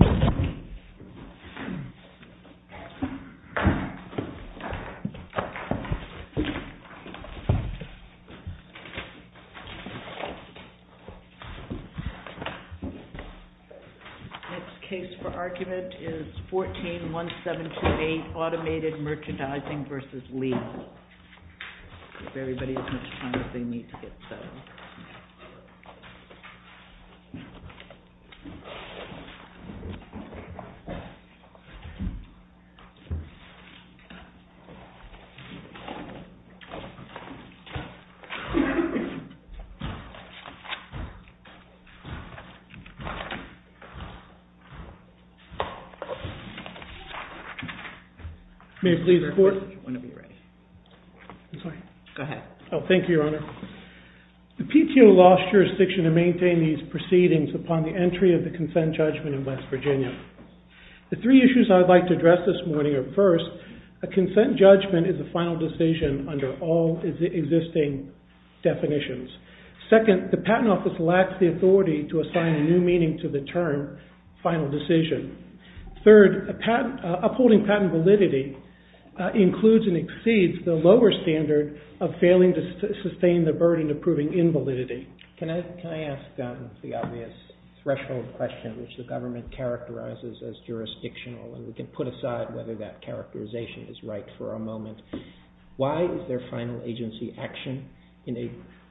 Lee. Case for argument is 141728 Automated Merchandising versus Lee. May please report. Thank you. Your Honor, the PTO lost jurisdiction to maintain these proceedings upon the entry of the consent judgment in West Virginia. The three issues I would like to address this morning are first, a consent judgment is a final decision under all existing definitions. Second, the patent office lacks the authority to assign a new meaning to the term final decision. Third, upholding patent validity includes and exceeds the lower standard of failing to sustain the burden of proving invalidity. Can I ask the obvious threshold question, which the government characterizes as jurisdictional, and we can put aside whether that characterization is right for a moment. Why is there final agency action in a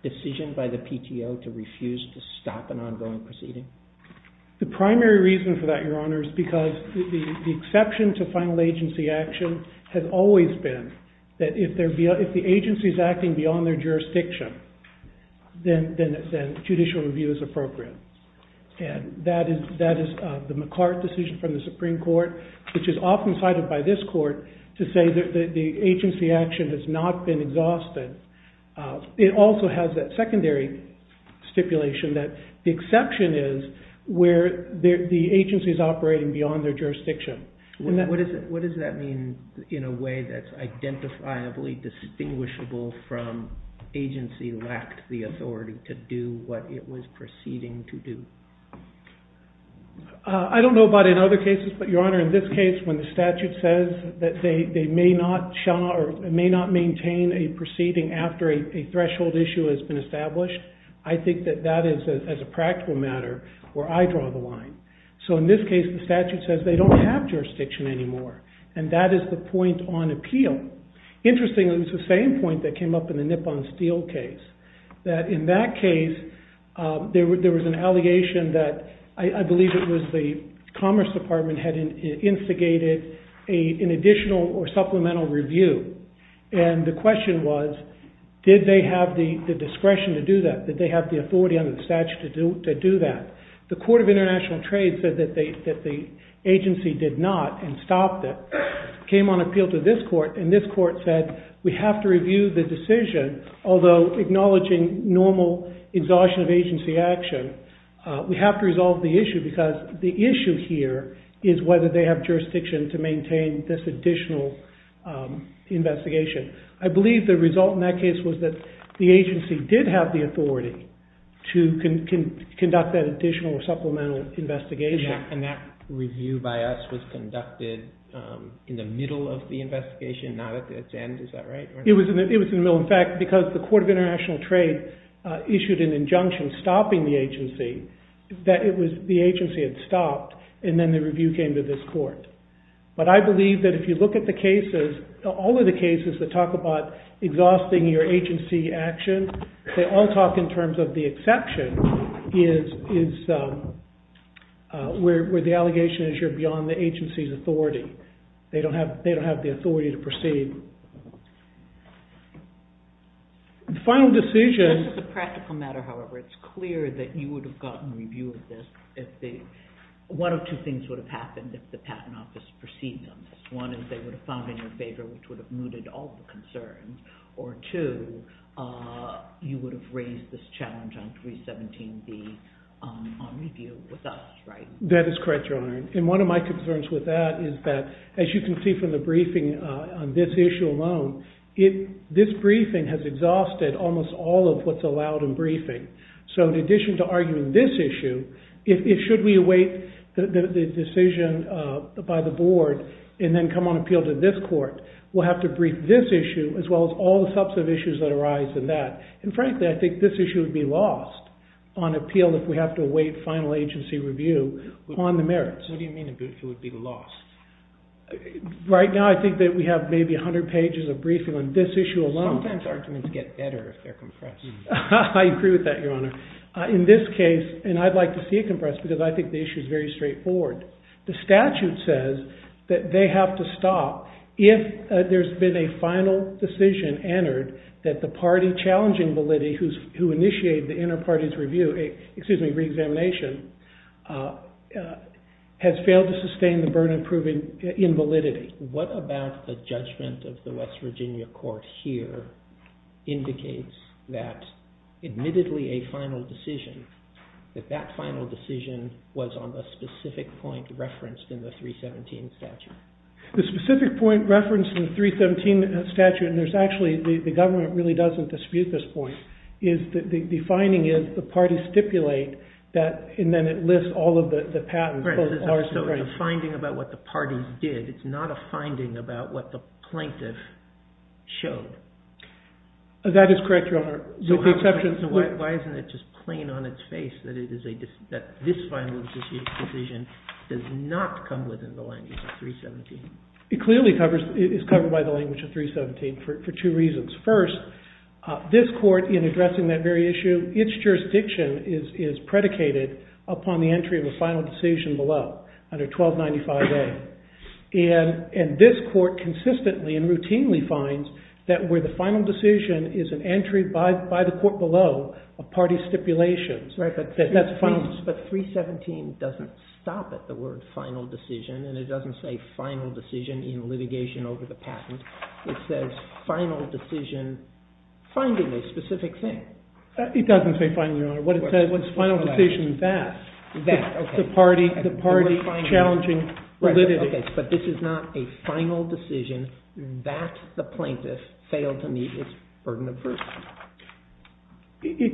decision by the PTO to refuse to stop an ongoing proceeding? The primary reason for that, Your Honor, is because the exception to final agency action has always been that if the agency is acting beyond their jurisdiction, then judicial review is appropriate. That is the McCart decision from the Supreme Court, which is often cited by this Court to say that the agency action has not been exhausted. It also has that secondary stipulation that the exception is where the agency is operating beyond their jurisdiction. What does that mean in a way that's identifiably distinguishable from agency lacked the authority to do what it was proceeding to do? I don't know about in other cases, but Your Honor, in this case, when the statute says that they may not maintain a proceeding after a threshold issue has been established, I think that that is, as a practical matter, where I draw the line. In this case, the statute says they don't have jurisdiction anymore, and that is the point on appeal. Interestingly, it was the same point that came up in the Nippon Steel case. In that case, there was an allegation that I believe it was the Commerce Department had instigated an additional or supplemental review. The question was, did they have the discretion to do that? Did they have the authority under the statute to do that? The Court of International Trade said that the agency did not and stopped it. It came on appeal to this Court, and this Court said we have to review the decision, although acknowledging normal exhaustion of agency action, we have to resolve the issue because the issue here is whether they have jurisdiction to maintain this additional investigation. I believe the result in that case was that the agency did have the authority to conduct that additional or supplemental investigation. And that review by us was conducted in the middle of the investigation, not at its end. Is that right? It was in the middle. In fact, because the Court of International Trade issued an injunction stopping the agency, the agency had stopped, and then the review came to this Court. But I believe that if you look at the cases, all of the cases that talk about exhausting your agency action, they all talk in terms of the exception is where the allegation is you're beyond the agency's authority. They don't have the authority to proceed. The final decision... This is a practical matter, however. It's clear that you would have gotten review of this if the... One of two things would have happened if the Patent Office proceeded on this. One is they would have found it in your favor, which would have mooted all the concerns, or two, you would have raised this challenge on 317B on review with us, right? That is correct, Your Honor. And one of my concerns with that is that, as you can see from the briefing on this issue alone, this briefing has exhausted almost all of what's allowed in briefing. So in addition to arguing this issue, should we await the decision by the Board and then come on appeal to this Court, we'll have to brief this issue as well as all the substantive issues that arise in that. And frankly, I think this issue would be lost on appeal if we have to await final agency review on the merits. What do you mean it would be lost? Right now I think that we have maybe 100 pages of briefing on this issue alone. Sometimes arguments get better if they're compressed. I agree with that, Your Honor. In this case, and I'd like to see it compressed because I think the issue is very straightforward, the statute says that they have to stop if there's been a final decision entered that the party challenging validity who initiated the inter-party's review, excuse me, re-examination, has failed to sustain the burden of proving invalidity. What about the judgment of the West Virginia Court here indicates that admittedly a final decision, that that final decision was on the specific point referenced in the 317 statute? The specific point referenced in the 317 statute, and there's actually, the government really doesn't dispute this point, is that the finding is the parties stipulate that, and then it lists all of the patents. Right, so it's a finding about what the parties did. It's not a finding about what the plaintiff showed. That is correct, Your Honor, with the exception. So why isn't it just plain on its face that this final decision does not come within the language of 317? It clearly is covered by the language of 317 for two reasons. First, this court in addressing that very issue, its jurisdiction is predicated upon the entry of a final decision below under 1295A, and this court consistently and routinely finds that where the final decision is an entry by the court below a party stipulation. Right, but 317 doesn't stop at the word final decision, and it doesn't say final decision in litigation over the patent. It says final decision finding a specific thing. It doesn't say final, Your Honor. What it says is final decision that. That, okay. The party challenging validity. But this is not a final decision that the plaintiff failed to meet its burden of proof.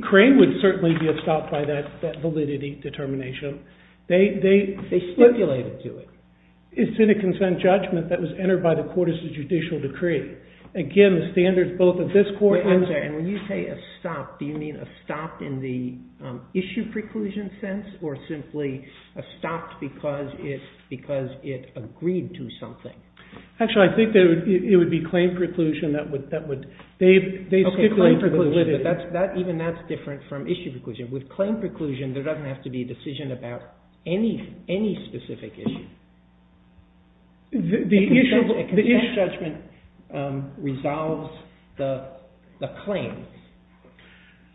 Crane would certainly be stopped by that validity determination. They stipulated to it. It's in a consent judgment that was entered by the court as a judicial decree. Again, the standards both of this court and. Wait, I'm sorry. When you say a stop, do you mean a stop in the issue preclusion sense, or simply a stop because it agreed to something? Actually, I think it would be claim preclusion that would. Okay, claim preclusion, but even that's different from issue preclusion. With claim preclusion, there doesn't have to be a decision about any specific issue. A consent judgment resolves the claim.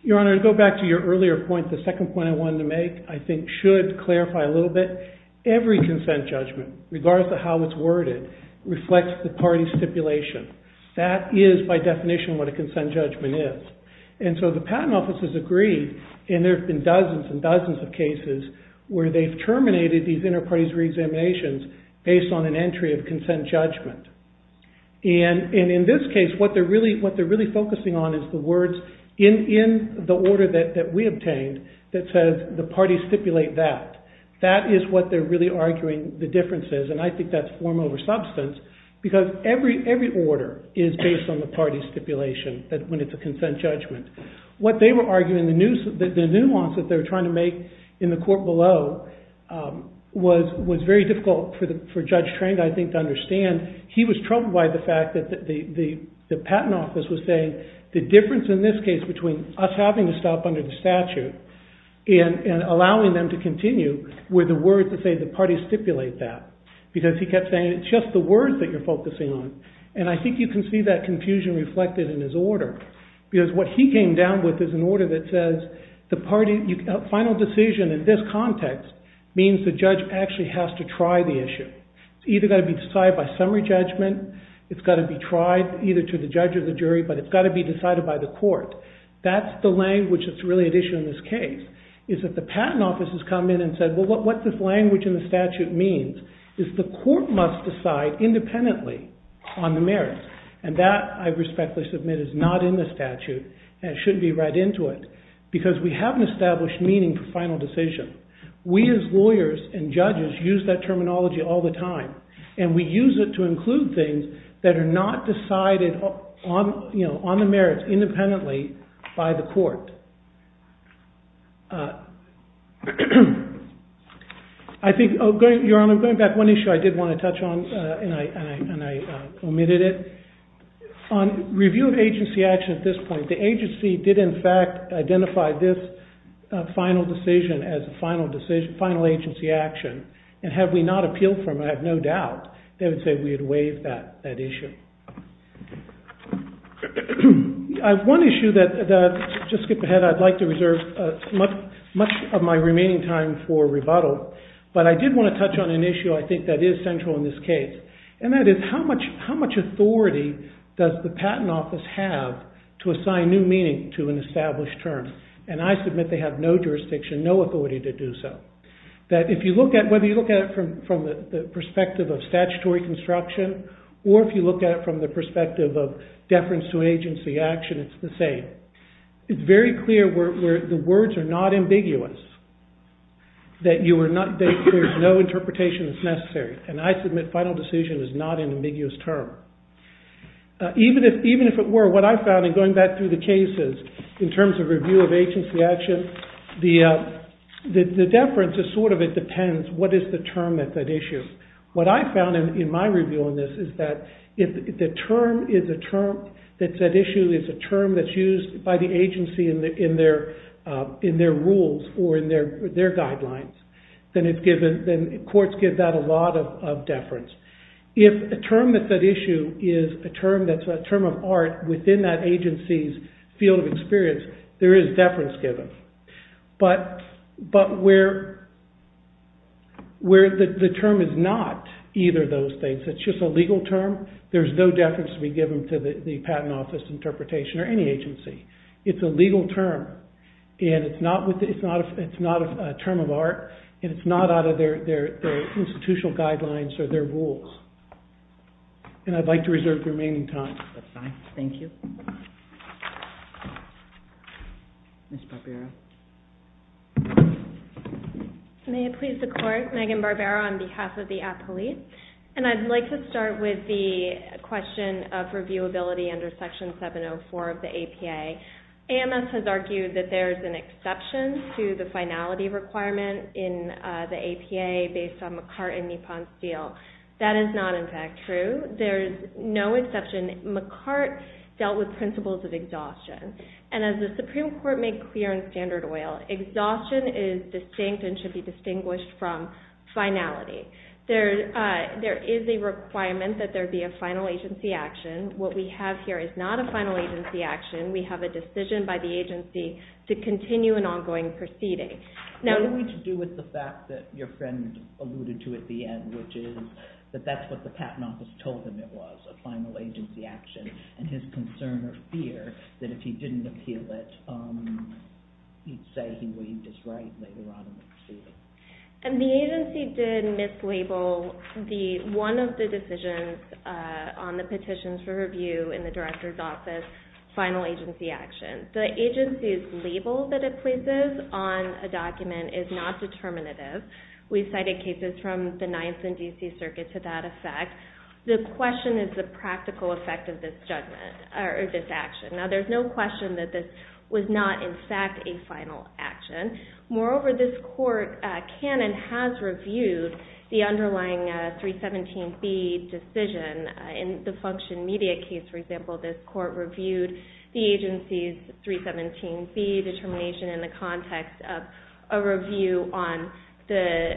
Your Honor, to go back to your earlier point, the second point I wanted to make I think should clarify a little bit. Every consent judgment, regardless of how it's worded, reflects the party stipulation. That is, by definition, what a consent judgment is. The patent office has agreed, and there have been dozens and dozens of cases where they've terminated these enterprise reexaminations based on an entry of consent judgment. In this case, what they're really focusing on is the words in the order that we obtained that says the parties stipulate that. That is what they're really arguing the difference is, and I think that's form over substance because every order is based on the party stipulation when it's a consent judgment. What they were arguing, the nuance that they were trying to make in the court below was very difficult for Judge Trang, I think, to understand. He was troubled by the fact that the patent office was saying the difference in this case between us having to stop under the statute and allowing them to continue were the words that say the parties stipulate that because he kept saying it's just the words that you're focusing on. And I think you can see that confusion reflected in his order because what he came down with is an order that says the final decision in this context means the judge actually has to try the issue. It's either going to be decided by summary judgment, it's got to be tried either to the judge or the jury, but it's got to be decided by the court. That's the language that's really at issue in this case is that the patent office has come in and said, well, what this language in the statute means is the court must decide independently on the merits. And that, I respectfully submit, is not in the statute and shouldn't be read into it because we haven't established meaning for final decision. We as lawyers and judges use that terminology all the time and we use it to include things that are not decided on the merits independently by the court. I think, Your Honor, going back to one issue I did want to touch on and I omitted it. On review of agency action at this point, the agency did in fact identify this final decision as a final agency action and had we not appealed for them, I have no doubt, they would say we had waived that issue. I have one issue that, just to skip ahead, because I'd like to reserve much of my remaining time for rebuttal, but I did want to touch on an issue I think that is central in this case and that is how much authority does the patent office have to assign new meaning to an established term? And I submit they have no jurisdiction, no authority to do so. Whether you look at it from the perspective of statutory construction or if you look at it from the perspective of deference to agency action, it's the same. It's very clear where the words are not ambiguous, that there's no interpretation that's necessary, and I submit final decision is not an ambiguous term. Even if it were, what I found in going back through the cases in terms of review of agency action, the deference is sort of it depends what is the term at that issue. What I found in my review on this is that if the term is a term, that that issue is a term that's used by the agency in their rules or in their guidelines, then courts give that a lot of deference. If a term at that issue is a term that's a term of art within that agency's field of experience, there is deference given. But where the term is not either of those things, it's just a legal term, there's no deference to be given to the patent office interpretation or any agency. It's a legal term and it's not a term of art and it's not out of their institutional guidelines or their rules. And I'd like to reserve the remaining time. That's fine. Thank you. Ms. Barbera. May it please the court. Megan Barbera on behalf of the appellate. And I'd like to start with the question of reviewability under Section 704 of the APA. AMS has argued that there's an exception to the finality requirement in the APA based on McCartt and Nippon's deal. That is not, in fact, true. There's no exception. McCartt dealt with principles of exhaustion. And as the Supreme Court made clear in Standard Oil, exhaustion is distinct and should be distinguished from finality. There is a requirement that there be a final agency action. What we have here is not a final agency action. We have a decision by the agency to continue an ongoing proceeding. What do we do with the fact that your friend alluded to at the end, which is that that's what the patent office told him it was, a final agency action, and his concern or fear that if he didn't appeal it, he'd say he waived his right later on in the proceeding? The agency did mislabel one of the decisions on the petitions for review in the director's office, final agency action. The agency's label that it places on a document is not determinative. We've cited cases from the Ninth and D.C. Circuit to that effect. The question is the practical effect of this judgment or this action. Now, there's no question that this was not, in fact, a final action. Moreover, this court can and has reviewed the underlying 317B decision. In the function media case, for example, this court reviewed the agency's 317B determination in the context of a review on the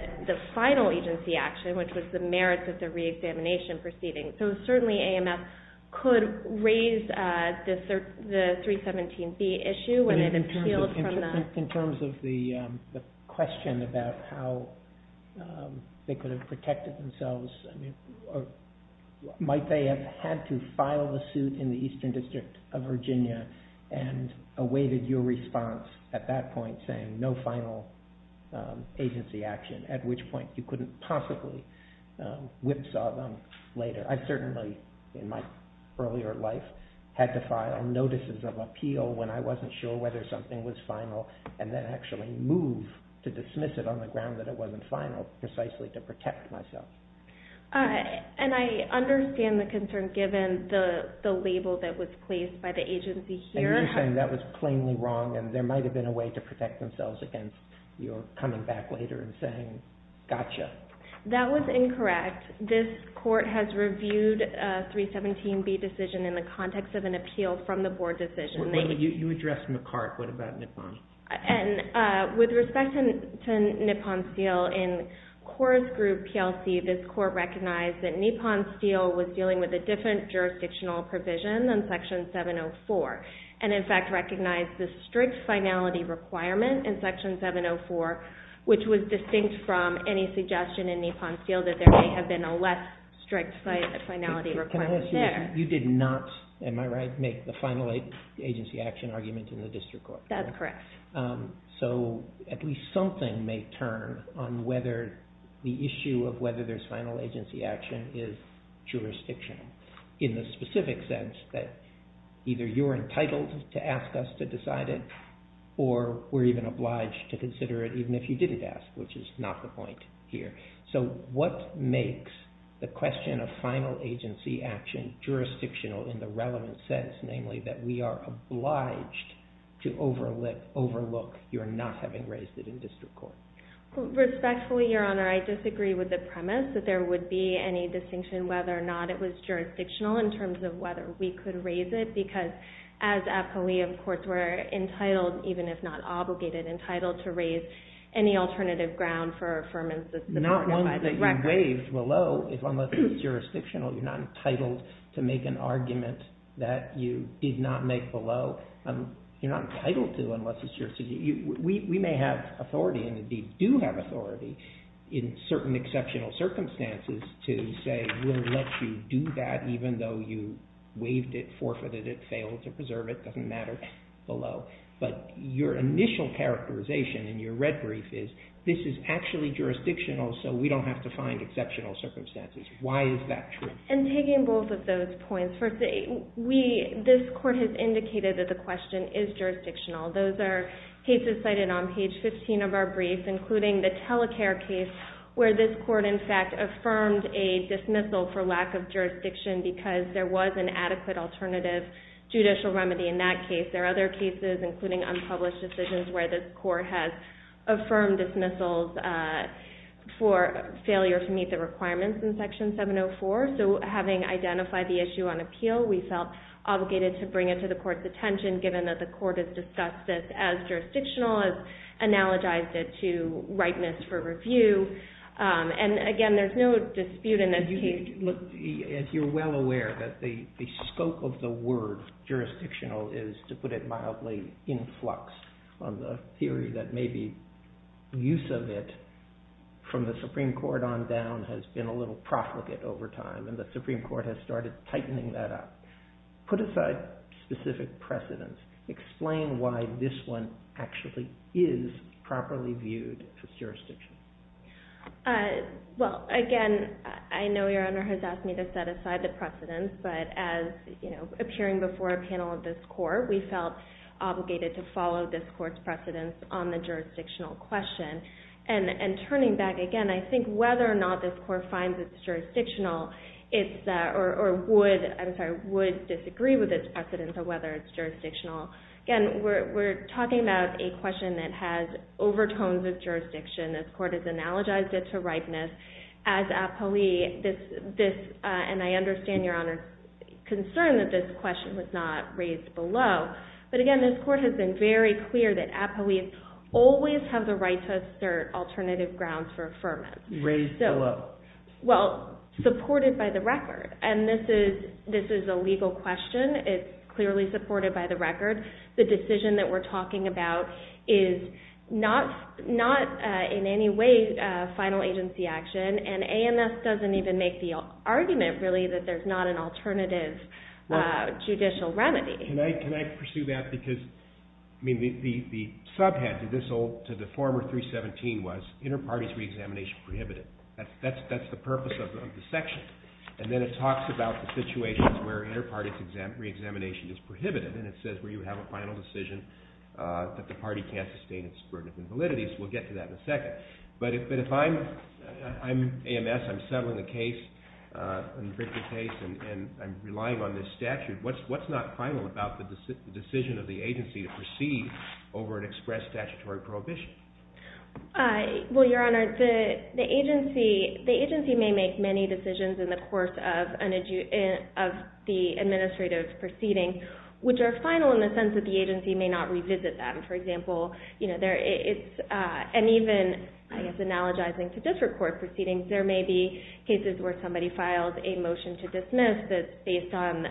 final agency action, which was the merits of the reexamination proceeding. So certainly AMF could raise the 317B issue when it appealed from the- The question about how they could have protected themselves, might they have had to file the suit in the Eastern District of Virginia and awaited your response at that point saying no final agency action, at which point you couldn't possibly whipsaw them later. I certainly, in my earlier life, had to file notices of appeal when I wasn't sure whether something was final and then actually move to dismiss it on the ground that it wasn't final precisely to protect myself. And I understand the concern given the label that was placed by the agency here. And you're saying that was plainly wrong and there might have been a way to protect themselves against your coming back later and saying, gotcha. That was incorrect. This court has reviewed a 317B decision in the context of an appeal from the board decision. You addressed McCart, what about Nippon? And with respect to Nippon Steel, in Coors Group PLC, this court recognized that Nippon Steel was dealing with a different jurisdictional provision than Section 704 and in fact recognized the strict finality requirement in Section 704, which was distinct from any suggestion in Nippon Steel that there may have been a less strict finality requirement there. You did not, am I right, make the final agency action argument in the district court? That's correct. So at least something may turn on whether the issue of whether there's final agency action is jurisdictional in the specific sense that either you're entitled to ask us to decide it or we're even obliged to consider it even if you didn't ask, which is not the point here. So what makes the question of final agency action jurisdictional in the relevant sense, namely that we are obliged to overlook your not having raised it in district court? Respectfully, Your Honor, I disagree with the premise that there would be any distinction whether or not it was jurisdictional in terms of whether we could raise it because as appellee of courts we're entitled, even if not obligated, entitled to raise any alternative ground for affirmance that the court notifies the record. Not one that you waived below unless it's jurisdictional. You're not entitled to make an argument that you did not make below. You're not entitled to unless it's jurisdictional. We may have authority and indeed do have authority in certain exceptional circumstances to say we'll let you do that even though you waived it, forfeited it, failed to preserve it, doesn't matter, below. But your initial characterization in your red brief is this is actually jurisdictional so we don't have to find exceptional circumstances. Why is that true? In taking both of those points, this court has indicated that the question is jurisdictional. Those are cases cited on page 15 of our brief, including the Telecare case where this court in fact affirmed a dismissal for lack of jurisdiction because there was an adequate alternative judicial remedy in that case. There are other cases, including unpublished decisions, where this court has affirmed dismissals for failure to meet the requirements in Section 704. So having identified the issue on appeal, we felt obligated to bring it to the court's attention given that the court has discussed this as jurisdictional, has analogized it to rightness for review. And again, there's no dispute in this case. You're well aware that the scope of the word jurisdictional is, to put it mildly, in flux. The theory that maybe use of it from the Supreme Court on down has been a little profligate over time, and the Supreme Court has started tightening that up. Put aside specific precedents. Explain why this one actually is properly viewed as jurisdictional. Well, again, I know Your Honor has asked me to set aside the precedents, but as, you know, appearing before a panel of this court, we felt obligated to follow this court's precedents on the jurisdictional question. And turning back again, I think whether or not this court finds it jurisdictional or would disagree with its precedents on whether it's jurisdictional. Again, we're talking about a question that has overtones of jurisdiction. This court has analogized it to rightness. As appellee, this, and I understand Your Honor's concern that this question was not raised below, but again, this court has been very clear that appellees always have the right to assert alternative grounds for affirmance. Raised below. Well, supported by the record. And this is a legal question. It's clearly supported by the record. The decision that we're talking about is not in any way final agency action, and AMS doesn't even make the argument, really, that there's not an alternative judicial remedy. Can I pursue that? Because, I mean, the subhead to this old, to the former 317 was inter-parties re-examination prohibited. That's the purpose of the section. And then it talks about the situations where inter-parties re-examination is prohibited, and it says where you have a final decision that the party can't sustain in subverted invalidities. We'll get to that in a second. But if I'm AMS, I'm settling the case, and I'm relying on this statute, what's not final about the decision of the agency to proceed over an express statutory prohibition? Well, Your Honor, the agency may make many decisions in the course of the administrative proceeding which are final in the sense that the agency may not revisit them. For example, and even, I guess, analogizing to different court proceedings, there may be cases where somebody files a motion to dismiss that's based on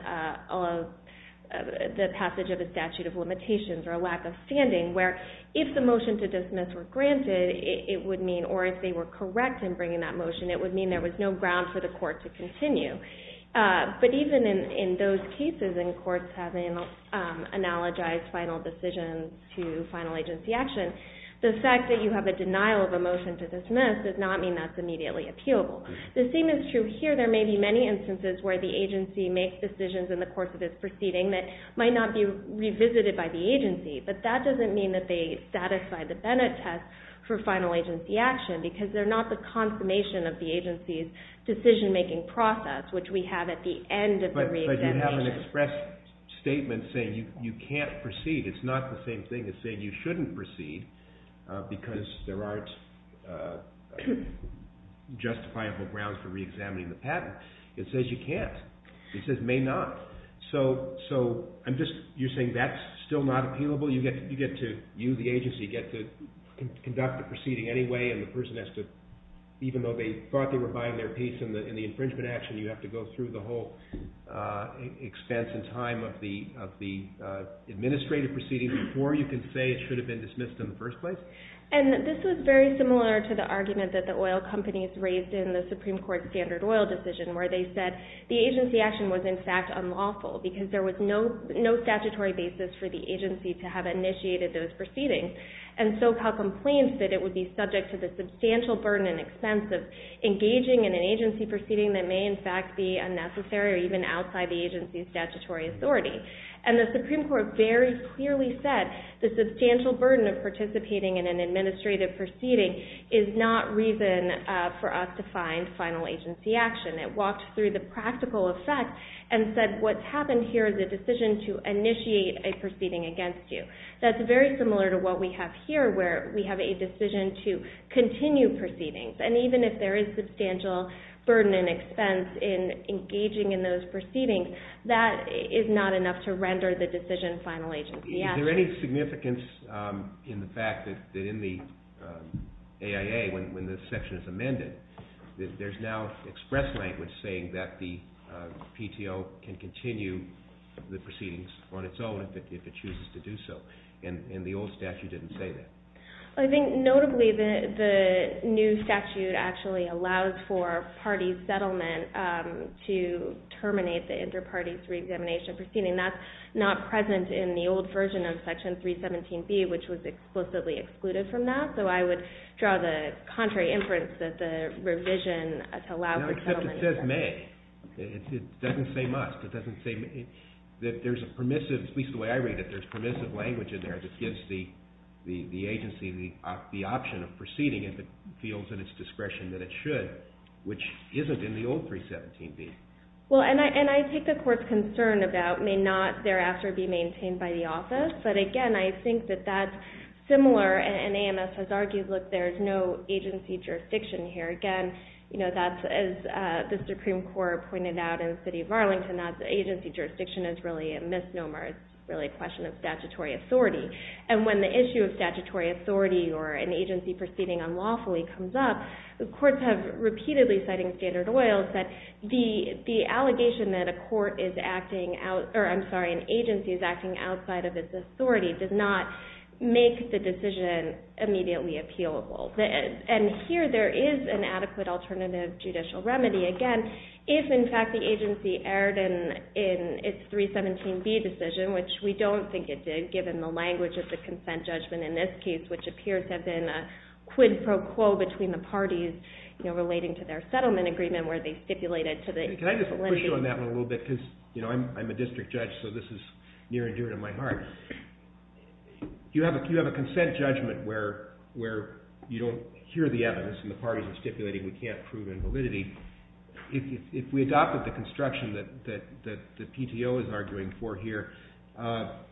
the passage of a statute of limitations or a lack of standing, where if the motion to dismiss were granted, it would mean, or if they were correct in bringing that motion, it would mean there was no ground for the court to continue. But even in those cases, in courts having analogized final decisions to final agency action, the fact that you have a denial of a motion to dismiss does not mean that's immediately appealable. The same is true here. There may be many instances where the agency makes decisions in the course of its proceeding that might not be revisited by the agency, but that doesn't mean that they satisfy the Bennett test for final agency action, because they're not the consummation of the agency's decision-making process, which we have at the end of the reexamination. But you have an express statement saying you can't proceed. It's not the same thing as saying you shouldn't proceed, because there aren't justifiable grounds for reexamining the patent. It says you can't. It says may not. So you're saying that's still not appealable? You, the agency, get to conduct the proceeding anyway, and the person has to, even though they thought they were buying their piece in the infringement action, you have to go through the whole expense and time of the administrative proceeding before you can say it should have been dismissed in the first place? And this was very similar to the argument that the oil companies raised in the Supreme Court standard oil decision, where they said the agency action was, in fact, unlawful, because there was no statutory basis for the agency to have initiated those proceedings. And SoCal complained that it would be subject to the substantial burden and expense of engaging in an agency proceeding that may, in fact, be unnecessary or even outside the agency's statutory authority. And the Supreme Court very clearly said the substantial burden of participating in an administrative proceeding is not reason for us to find final agency action. It walked through the practical effect and said what's happened here is a decision to initiate a proceeding against you. That's very similar to what we have here, where we have a decision to continue proceedings. And even if there is substantial burden and expense in engaging in those proceedings, that is not enough to render the decision final agency action. Is there any significance in the fact that in the AIA, when this section is amended, there's now express language saying that the PTO can continue the proceedings on its own if it chooses to do so? And the old statute didn't say that. I think notably the new statute actually allows for party settlement to terminate the inter-party reexamination proceeding. That's not present in the old version of Section 317B, which was explicitly excluded from that. So I would draw the contrary inference that the revision to allow for settlement... No, except it says may. It doesn't say must. At least the way I read it, there's permissive language in there that gives the agency the option of proceeding if it feels in its discretion that it should, which isn't in the old 317B. Well, and I take the Court's concern about may not thereafter be maintained by the office, but again, I think that that's similar, and AMS has argued, look, there's no agency jurisdiction here. Again, as the Supreme Court pointed out in the City of Arlington, that agency jurisdiction is really a misnomer. It's really a question of statutory authority. And when the issue of statutory authority or an agency proceeding unlawfully comes up, the courts have repeatedly, citing Standard Oil, said the allegation that a court is acting out, or I'm sorry, an agency is acting outside of its authority does not make the decision immediately appealable. And here there is an adequate alternative judicial remedy. Again, if in fact the agency erred in its 317B decision, which we don't think it did, given the language of the consent judgment in this case, which appears to have been a quid pro quo between the parties relating to their settlement agreement where they stipulated to the... Can I just push you on that one a little bit? Because I'm a district judge, so this is near and dear to my heart. You have a consent judgment where you don't hear the evidence and the parties are stipulating we can't prove invalidity. If we adopted the construction that PTO is arguing for here,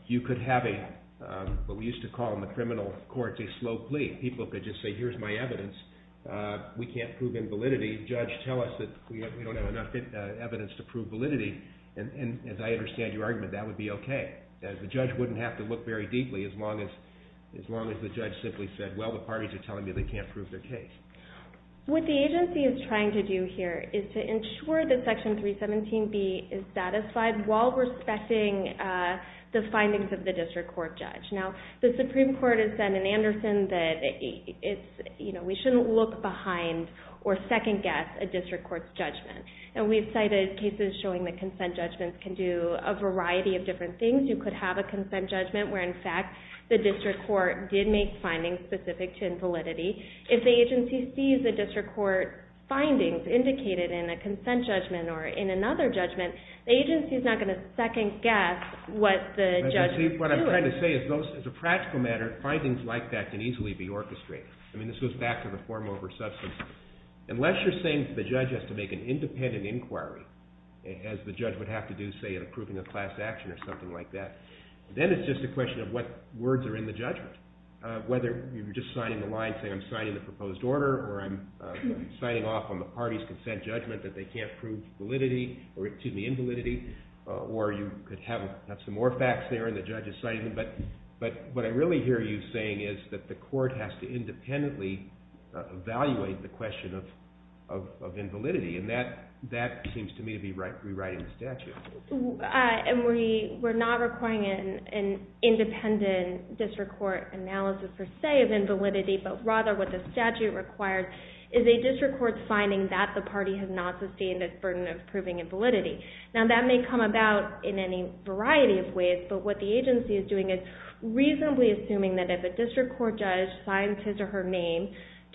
you could have what we used to call in the criminal court a slow plea. People could just say, here's my evidence. We can't prove invalidity. Judge, tell us that we don't have enough evidence to prove validity. And as I understand your argument, that would be okay. The judge wouldn't have to look very deeply as long as the judge simply said, well, the parties are telling me they can't prove their case. What the agency is trying to do here is to ensure that Section 317B is satisfied while respecting the findings of the district court judge. Now, the Supreme Court has said in Anderson that we shouldn't look behind or second-guess a district court's judgment. And we've cited cases showing that consent judgments can do a variety of different things. You could have a consent judgment where, in fact, the district court did make findings specific to invalidity. If the agency sees the district court findings indicated in a consent judgment or in another judgment, the agency is not going to second-guess what the judge is doing. What I'm trying to say is, as a practical matter, findings like that can easily be orchestrated. I mean, this goes back to the form over substance. Unless you're saying the judge has to make an independent inquiry, as the judge would have to do, say, in approving a class action or something like that, then it's just a question of what words are in the judgment. Whether you're just signing the line saying, I'm signing the proposed order, or I'm signing off on the party's consent judgment that they can't prove validity, or excuse me, invalidity, or you could have some more facts there and the judge is signing them. But what I really hear you saying is that the court has to independently evaluate the question of invalidity. And that seems to me to be rewriting the statute. And we're not requiring an independent district court analysis, per se, of invalidity, but rather what the statute requires is a district court's finding that the party has not sustained its burden of proving invalidity. Now, that may come about in any variety of ways, but what the agency is doing is reasonably assuming that if a district court judge signs his or her name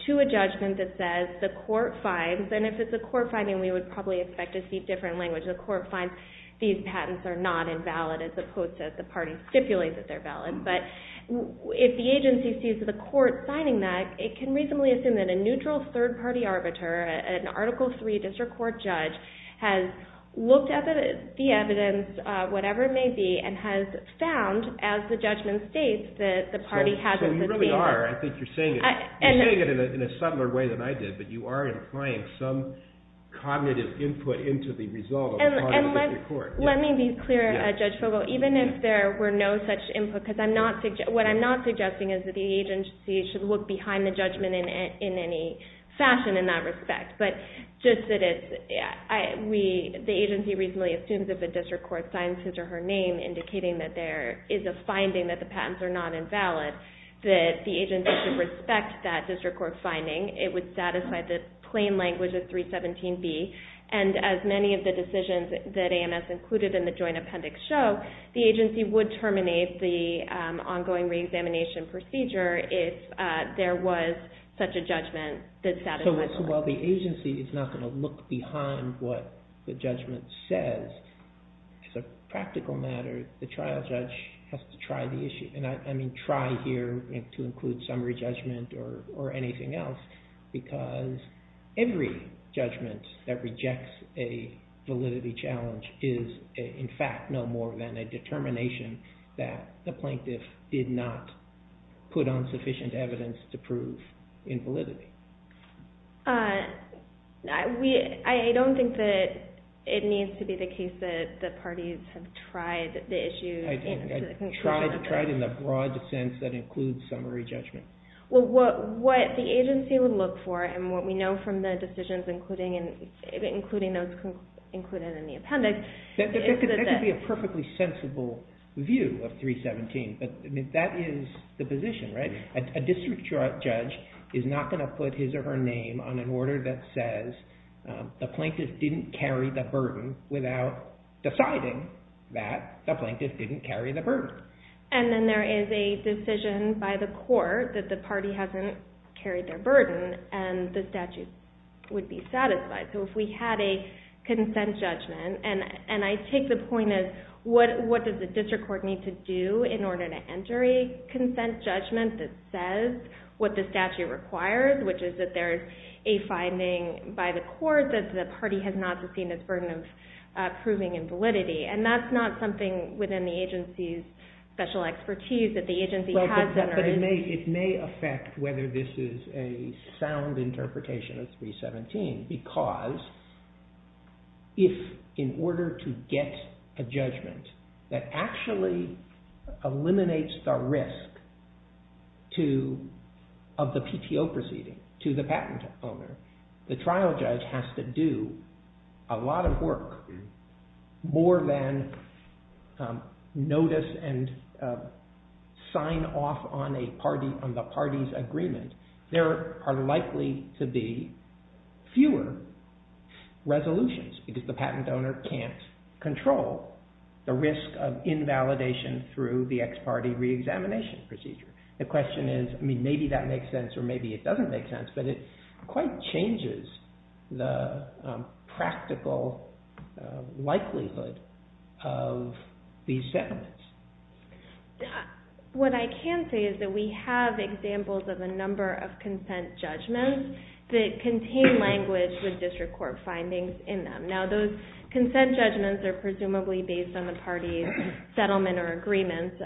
to a judgment that says the court finds, and if it's a court finding we would probably expect to see different language, the court finds these patents are not invalid as opposed to if the party stipulates that they're valid. But if the agency sees the court signing that, it can reasonably assume that a neutral third-party arbiter, an Article III district court judge, has looked at the evidence, whatever it may be, and has found, as the judgment states, that the party hasn't sustained... So you really are, I think you're saying it, you're saying it in a subtler way than I did, but you are implying some cognitive input into the result of a cognitive report. Let me be clear, Judge Fogel, even if there were no such input, because what I'm not suggesting is that the agency should look behind the judgment in any fashion in that respect, but just that the agency reasonably assumes if a district court signs his or her name indicating that there is a finding that the patents are not invalid, that the agency should respect that district court finding. It would satisfy the plain language of 317B, and as many of the decisions that AMS included in the joint appendix show, the agency would terminate the ongoing re-examination procedure if there was such a judgment that satisfies... So while the agency is not going to look behind what the judgment says, as a practical matter, the trial judge has to try the issue, and I mean try here to include summary judgment or anything else, because every judgment that rejects a validity challenge is in fact no more than a determination that the plaintiff did not put on sufficient evidence to prove invalidity. I don't think that it needs to be the case that the parties have tried the issue... I tried in the broad sense that includes summary judgment. What the agency would look for and what we know from the decisions including those included in the appendix... That could be a perfectly sensible view of 317, but that is the position, right? A district judge is not going to put his or her name on an order that says the plaintiff didn't carry the burden without deciding that the plaintiff didn't carry the burden. And then there is a decision by the court that the party hasn't carried their burden and the statute would be satisfied. So if we had a consent judgment, and I take the point as what does the district court need to do in order to enter a consent judgment that says what the statute requires, which is that there is a finding by the court that the party has not seen its burden of proving invalidity. And that's not something within the agency's special expertise that the agency has... It may affect whether this is a sound interpretation of 317 because if in order to get a judgment that actually eliminates the risk of the PTO proceeding to the patent owner, the trial judge has to do a lot of work more than notice and sign off on the party's agreement, there are likely to be fewer resolutions because the patent owner can't control the risk of invalidation through the ex-party re-examination procedure. The question is, maybe that makes sense or maybe it doesn't make sense, but it quite changes the practical likelihood of these settlements. What I can say is that we have examples of a number of consent judgments that contain language with district court findings in them. Now those consent judgments are presumably based on the party's settlement or agreements,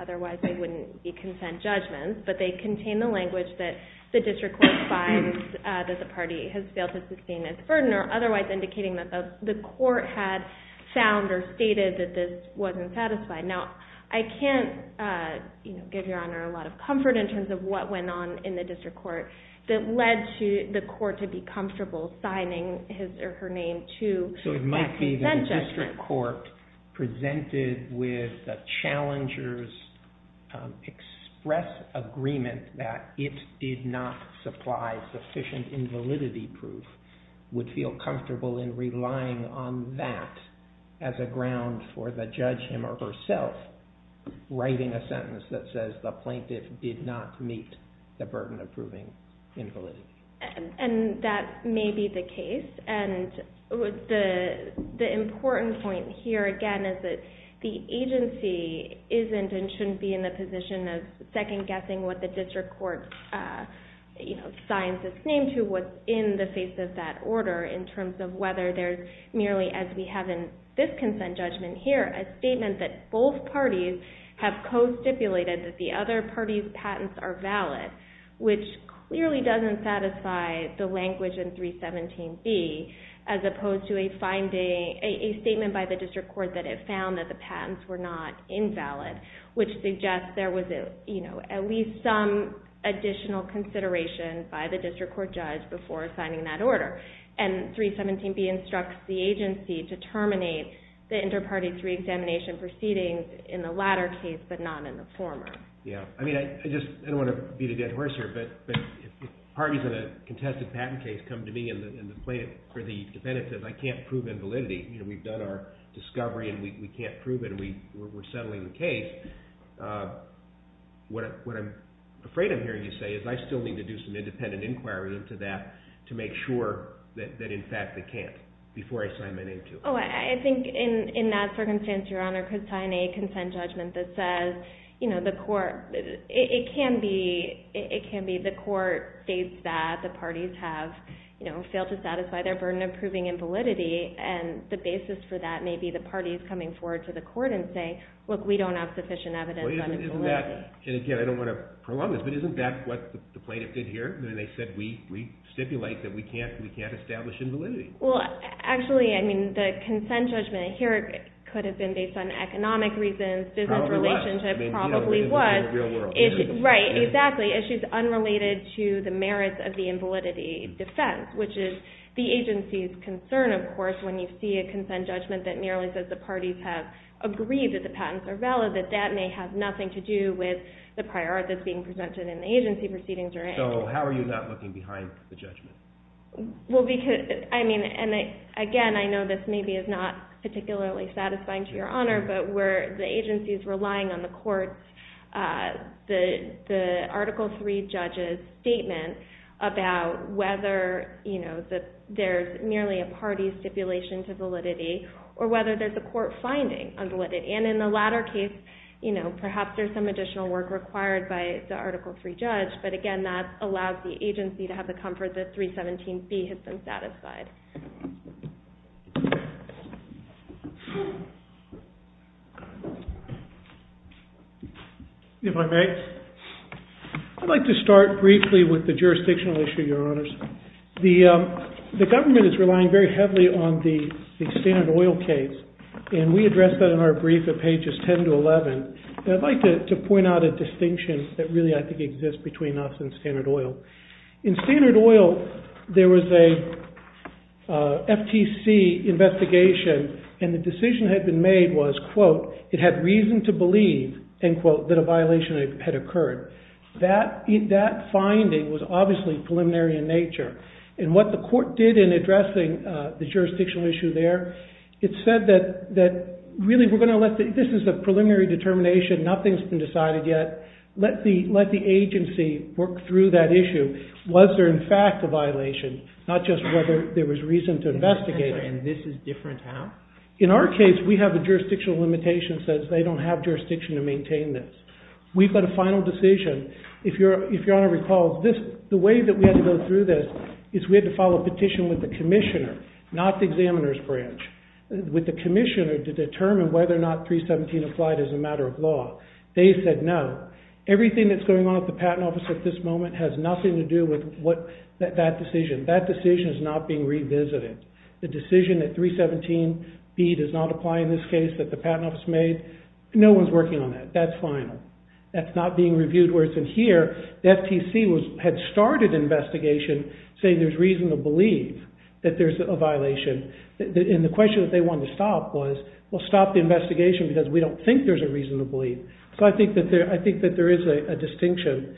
otherwise they wouldn't be consent judgments, but they contain the language that the district court finds that the party has failed to sustain its burden or otherwise indicating that the court had found or stated that this wasn't satisfied. Now I can't give Your Honor a lot of comfort in terms of what went on in the district court that led the court to be comfortable signing his or her name to that consent judgment. So it might be that the district court presented with the challenger's express agreement that it did not supply sufficient invalidity proof would feel comfortable in relying on that as a ground for the judge him or herself writing a sentence that says the plaintiff did not meet the burden of proving invalidity. And that may be the case, and the important point here again is that the agency isn't and shouldn't be in the position of second-guessing what the district court signs its name to was in the face of that order in terms of whether there's merely, as we have in this consent judgment here, a statement that both parties have co-stipulated that the other party's patents are valid, which clearly doesn't satisfy the language in 317B as opposed to a statement by the district court that it found that the patents were not invalid, which suggests there was at least some additional consideration by the district court judge before signing that order. And 317B instructs the agency to terminate the inter-party three-examination proceedings in the latter case but not in the former. I don't want to beat a dead horse here, but if parties in a contested patent case come to me and the plaintiff or the defendant says I can't prove invalidity, we've done our discovery and we can't prove it and we're settling the case, what I'm afraid of hearing you say is I still need to do some independent inquiry into that to make sure that in fact I can't before I sign my name to it. I think in that circumstance, Your Honor, the court could sign a consent judgment that says it can be the court states that the parties have failed to satisfy their burden of proving invalidity and the basis for that may be the parties coming forward to the court and saying look, we don't have sufficient evidence on invalidity. Again, I don't want to prolong this, but isn't that what the plaintiff did here? They said we stipulate that we can't establish invalidity. Actually, the consent judgment here could have been based on economic reasons, business relationships probably was. Right, exactly. Issues unrelated to the merits of the invalidity defense which is the agency's concern, of course, when you see a consent judgment that merely says the parties have agreed that the patents are valid, that that may have nothing to do with the prior art that's being presented in the agency proceedings. So how are you not looking behind the judgment? Well, again, I know this maybe is not particularly satisfying to your honor, but where the agency's relying on the court's, the Article III judge's statement about whether there's merely a party's stipulation to validity or whether there's a court finding on validity. And in the latter case, perhaps there's some additional work required by the Article III judge, but again, that allows the agency to have the comfort that 317B has been satisfied. If I may? I'd like to start briefly with the jurisdictional issue, your honors. The government is relying very heavily on the standard oil case and we addressed that in our brief at pages 10 to 11. And I'd like to point out a distinction that really I think exists between us and standard oil. In standard oil, there was a FTC investigation and the decision that had been made was, quote, it had reason to believe, end quote, that a violation had occurred. That finding was obviously preliminary in nature. And what the court did in addressing the jurisdictional issue there, it said that really we're going to let the, this is a preliminary determination, nothing's been decided yet. Let the agency work through that issue. Was there in fact a violation? Not just whether there was reason to investigate it. And this is different how? In our case, we have a jurisdictional limitation that says they don't have jurisdiction to maintain this. We've got a final decision. If your honor recalls, the way that we had to go through this is we had to file a petition with the commissioner, not the examiner's branch, with the commissioner to determine whether or not 317 applied as a matter of law. They said no. Everything that's going on at the patent office at this moment has nothing to do with that decision. That decision is not being revisited. The decision that 317B does not apply in this case that the patent office made, no one's working on that. That's final. That's not being reviewed where it's in here. The FTC had started investigation saying there's reason to believe that there's a violation. And the question that they wanted to stop was, well, stop the investigation because we don't think there's a reason to believe. So I think that there is a distinction.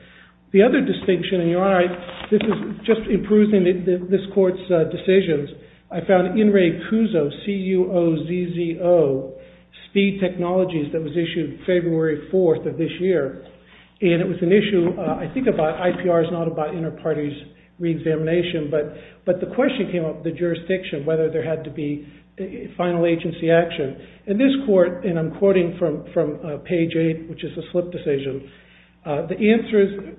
The other distinction, and your honor, this is just in perusing this court's decisions, I found Inrei Kuzo, C-U-O-Z-Z-O, speed technologies, that was issued February 4th of this year. And it was an issue, I think, about, IPR is not about inter-parties re-examination, but the question came up, the jurisdiction, whether there had to be final agency action. In this court, and I'm quoting from page 8, which is the slip decision, the answer is,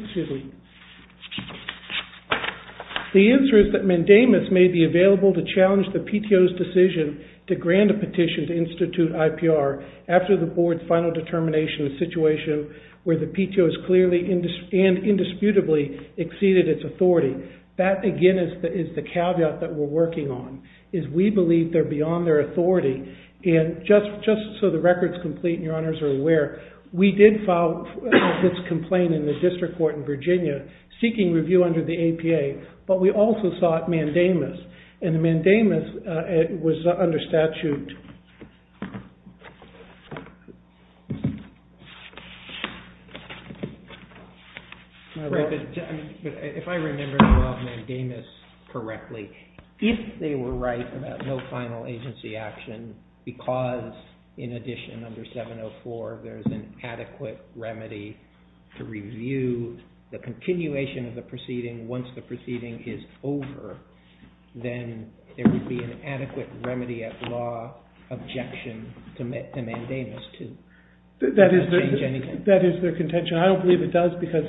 excuse me, the answer is that mandamus may be available to challenge the PTO's decision to grant a petition to institute IPR after the board's final determination in a situation where the PTO has clearly and indisputably exceeded its authority. That, again, is the caveat that we're working on, is we believe they're beyond their authority. And just so the record's complete, and your honors are aware, we did file this complaint in the district court in Virginia seeking review under the APA, but we also sought mandamus. And the mandamus was under statute. If I remember the word mandamus correctly, if they were right about no final agency action because, in addition, under 704, there's an adequate remedy to review the continuation of the proceeding once the proceeding is over, then there would be an adequate remedy at law objection to mandamus, too. That is their contention. I don't believe it does because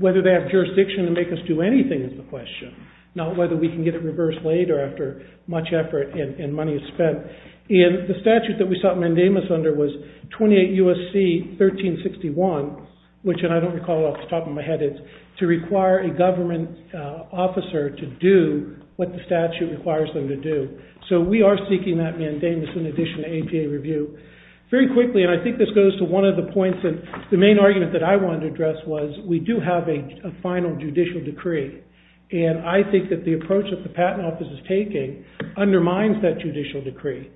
whether they have jurisdiction to make us do anything is the question, not whether we can get it reversed later after much effort and money is spent. And the statute that we sought mandamus under was 28 U.S.C. 1361, which, and I don't recall off the top of my head, is to require a government officer to do what the statute requires them to do. So we are seeking that mandamus in addition to APA review. Very quickly, and I think this goes to one of the points that the main argument that I wanted to address was we do have a final judicial decree. And I think that the approach that the patent office is taking undermines that judicial decree.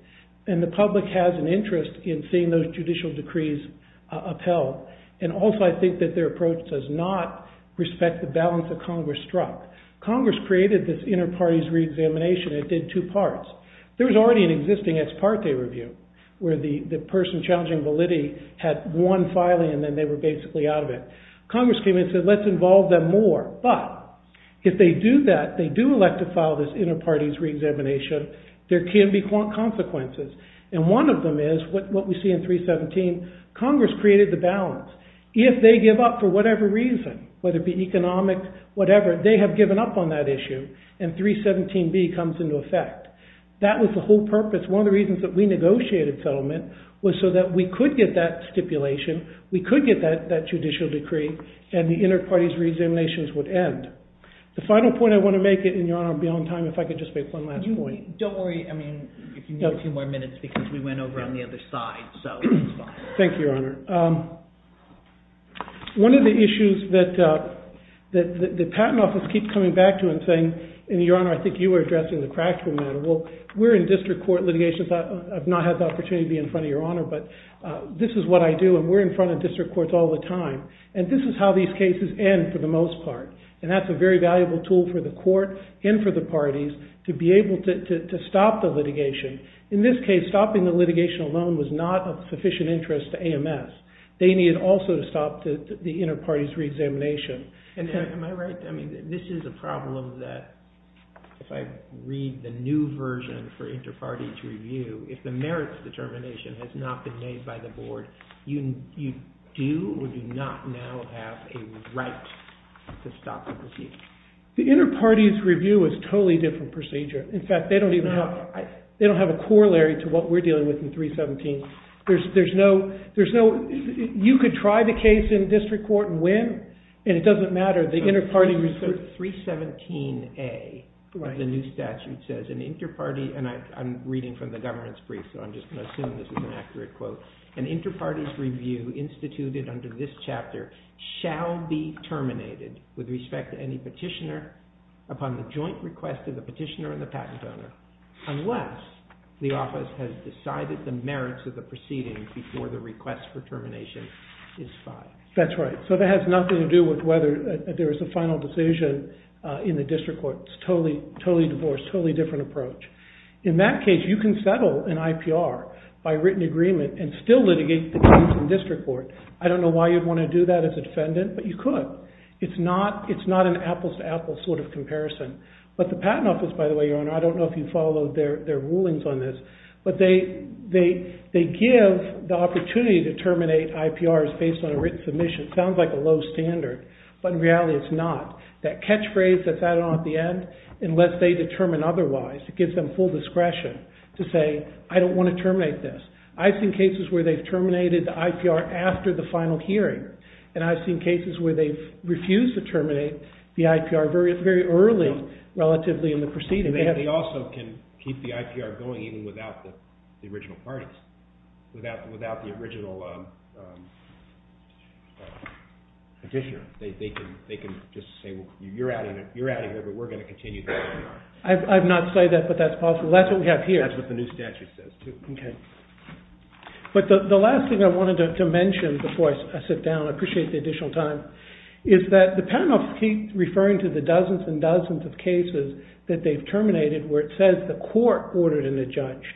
And the public has an interest in seeing those judicial decrees upheld. And also I think that their approach does not respect the balance that Congress struck. Congress created this inter-parties re-examination and it did two parts. There was already an existing ex parte review where the person challenging validity had one filing and then they were basically out of it. Congress came in and said, let's involve them more. But if they do that, they do elect to file this inter-parties re-examination, there can be consequences. And one of them is what we see in 317, Congress created the balance. If they give up for whatever reason, whether it be economic, whatever, they have given up on that issue, and 317B comes into effect. That was the whole purpose. One of the reasons that we negotiated settlement was so that we could get that stipulation, we could get that judicial decree, and the inter-parties re-examinations would end. The final point I want to make, and Your Honor, I'm beyond time, if I could just make one last point. Don't worry, I mean, if you need a few more minutes, because we went over on the other side, so it's fine. Thank you, Your Honor. One of the issues that the Patent Office keeps coming back to and saying, and Your Honor, I think you were addressing the practical matter, well, we're in district court litigation, I've not had the opportunity to be in front of Your Honor, but this is what I do, and we're in front of district courts all the time. And that's a very valuable tool for the court, and for the parties, to be able to stop the litigation. In this case, stopping the litigation alone was not of sufficient interest to AMS. They needed also to stop the inter-parties re-examination. Am I right? I mean, this is a problem that, if I read the new version for inter-party to review, if the merits determination has not been made by the board, you do or do not now have a right to stop the proceedings. The inter-parties review is a totally different procedure. In fact, they don't even have, they don't have a corollary to what we're dealing with in 317. There's no, there's no, you could try the case in district court and win, and it doesn't matter. The inter-party review. 317A of the new statute says, an inter-party, and I'm reading from the governance brief, so I'm just going to assume this is an accurate quote, an inter-parties review instituted under this chapter shall be terminated with respect to any petitioner upon the joint request of the petitioner and the patent owner unless the office has decided the merits of the proceedings before the request for termination is filed. That's right. So that has nothing to do with whether there was a final decision in the district court. It's totally, totally divorced, totally different approach. In that case, you can settle an IPR by written agreement and still litigate the case in district court. I don't know why you'd want to do that as a defendant, but you could. It's not an apples-to-apples sort of comparison. But the patent office, by the way, Your Honor, I don't know if you followed their rulings on this, but they give the opportunity to terminate IPRs based on a written submission. It sounds like a low standard, but in reality it's not. That catchphrase that's added on at the end, unless they determine otherwise, it gives them full discretion to say, I don't want to terminate this. I've seen cases where they've terminated the IPR after the final hearing, and I've seen cases where they've refused to terminate the IPR very early relatively in the proceeding. They also can keep the IPR going even without the original parties, without the original petitioner. They can just say, you're out of here, but we're going to continue the IPR. I've not said that, but that's possible. That's what we have here. And that's what the new statute says, too. Okay. But the last thing I wanted to mention before I sit down, I appreciate the additional time, is that the panel keeps referring to the dozens and dozens of cases that they've terminated where it says the court ordered an adjudged.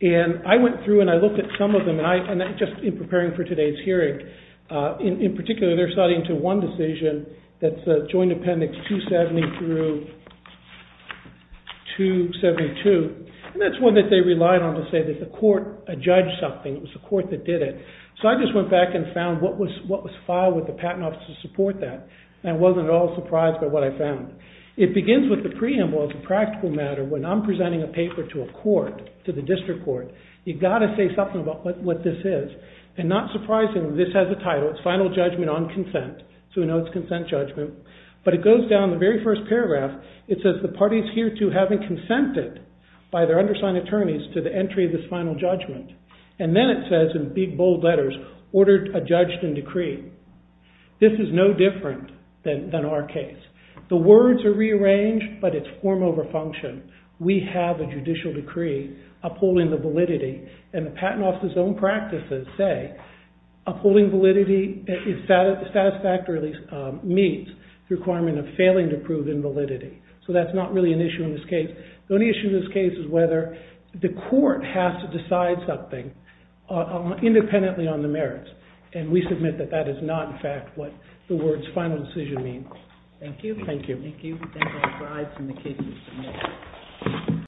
And I went through and I looked at some of them, and just in preparing for today's hearing, in particular they're citing to one decision that says Joint Appendix 270 through 272. And that's one that they relied on to say that the court adjudged something. It was the court that did it. So I just went back and found what was filed with the Patent Office to support that. And I wasn't at all surprised by what I found. It begins with the preamble as a practical matter. When I'm presenting a paper to a court, to the district court, you've got to say something about what this is. And not surprisingly, this has a title. It's Final Judgment on Consent. So we know it's consent judgment. But it goes down the very first paragraph. It says the parties hereto having consented by their undersigned attorneys to the entry of this final judgment. And then it says in big, bold letters, ordered adjudged in decree. This is no different than our case. The words are rearranged, but it's form over function. We have a judicial decree upholding the validity. And the Patent Office's own practices say upholding validity is satisfactory, or at least meets the requirement of failing to prove invalidity. So that's not really an issue in this case. The only issue in this case is whether the court has to decide something independently on the merits. And we submit that that is not, in fact, what the words final decision mean. Thank you. Thank you. Thank you.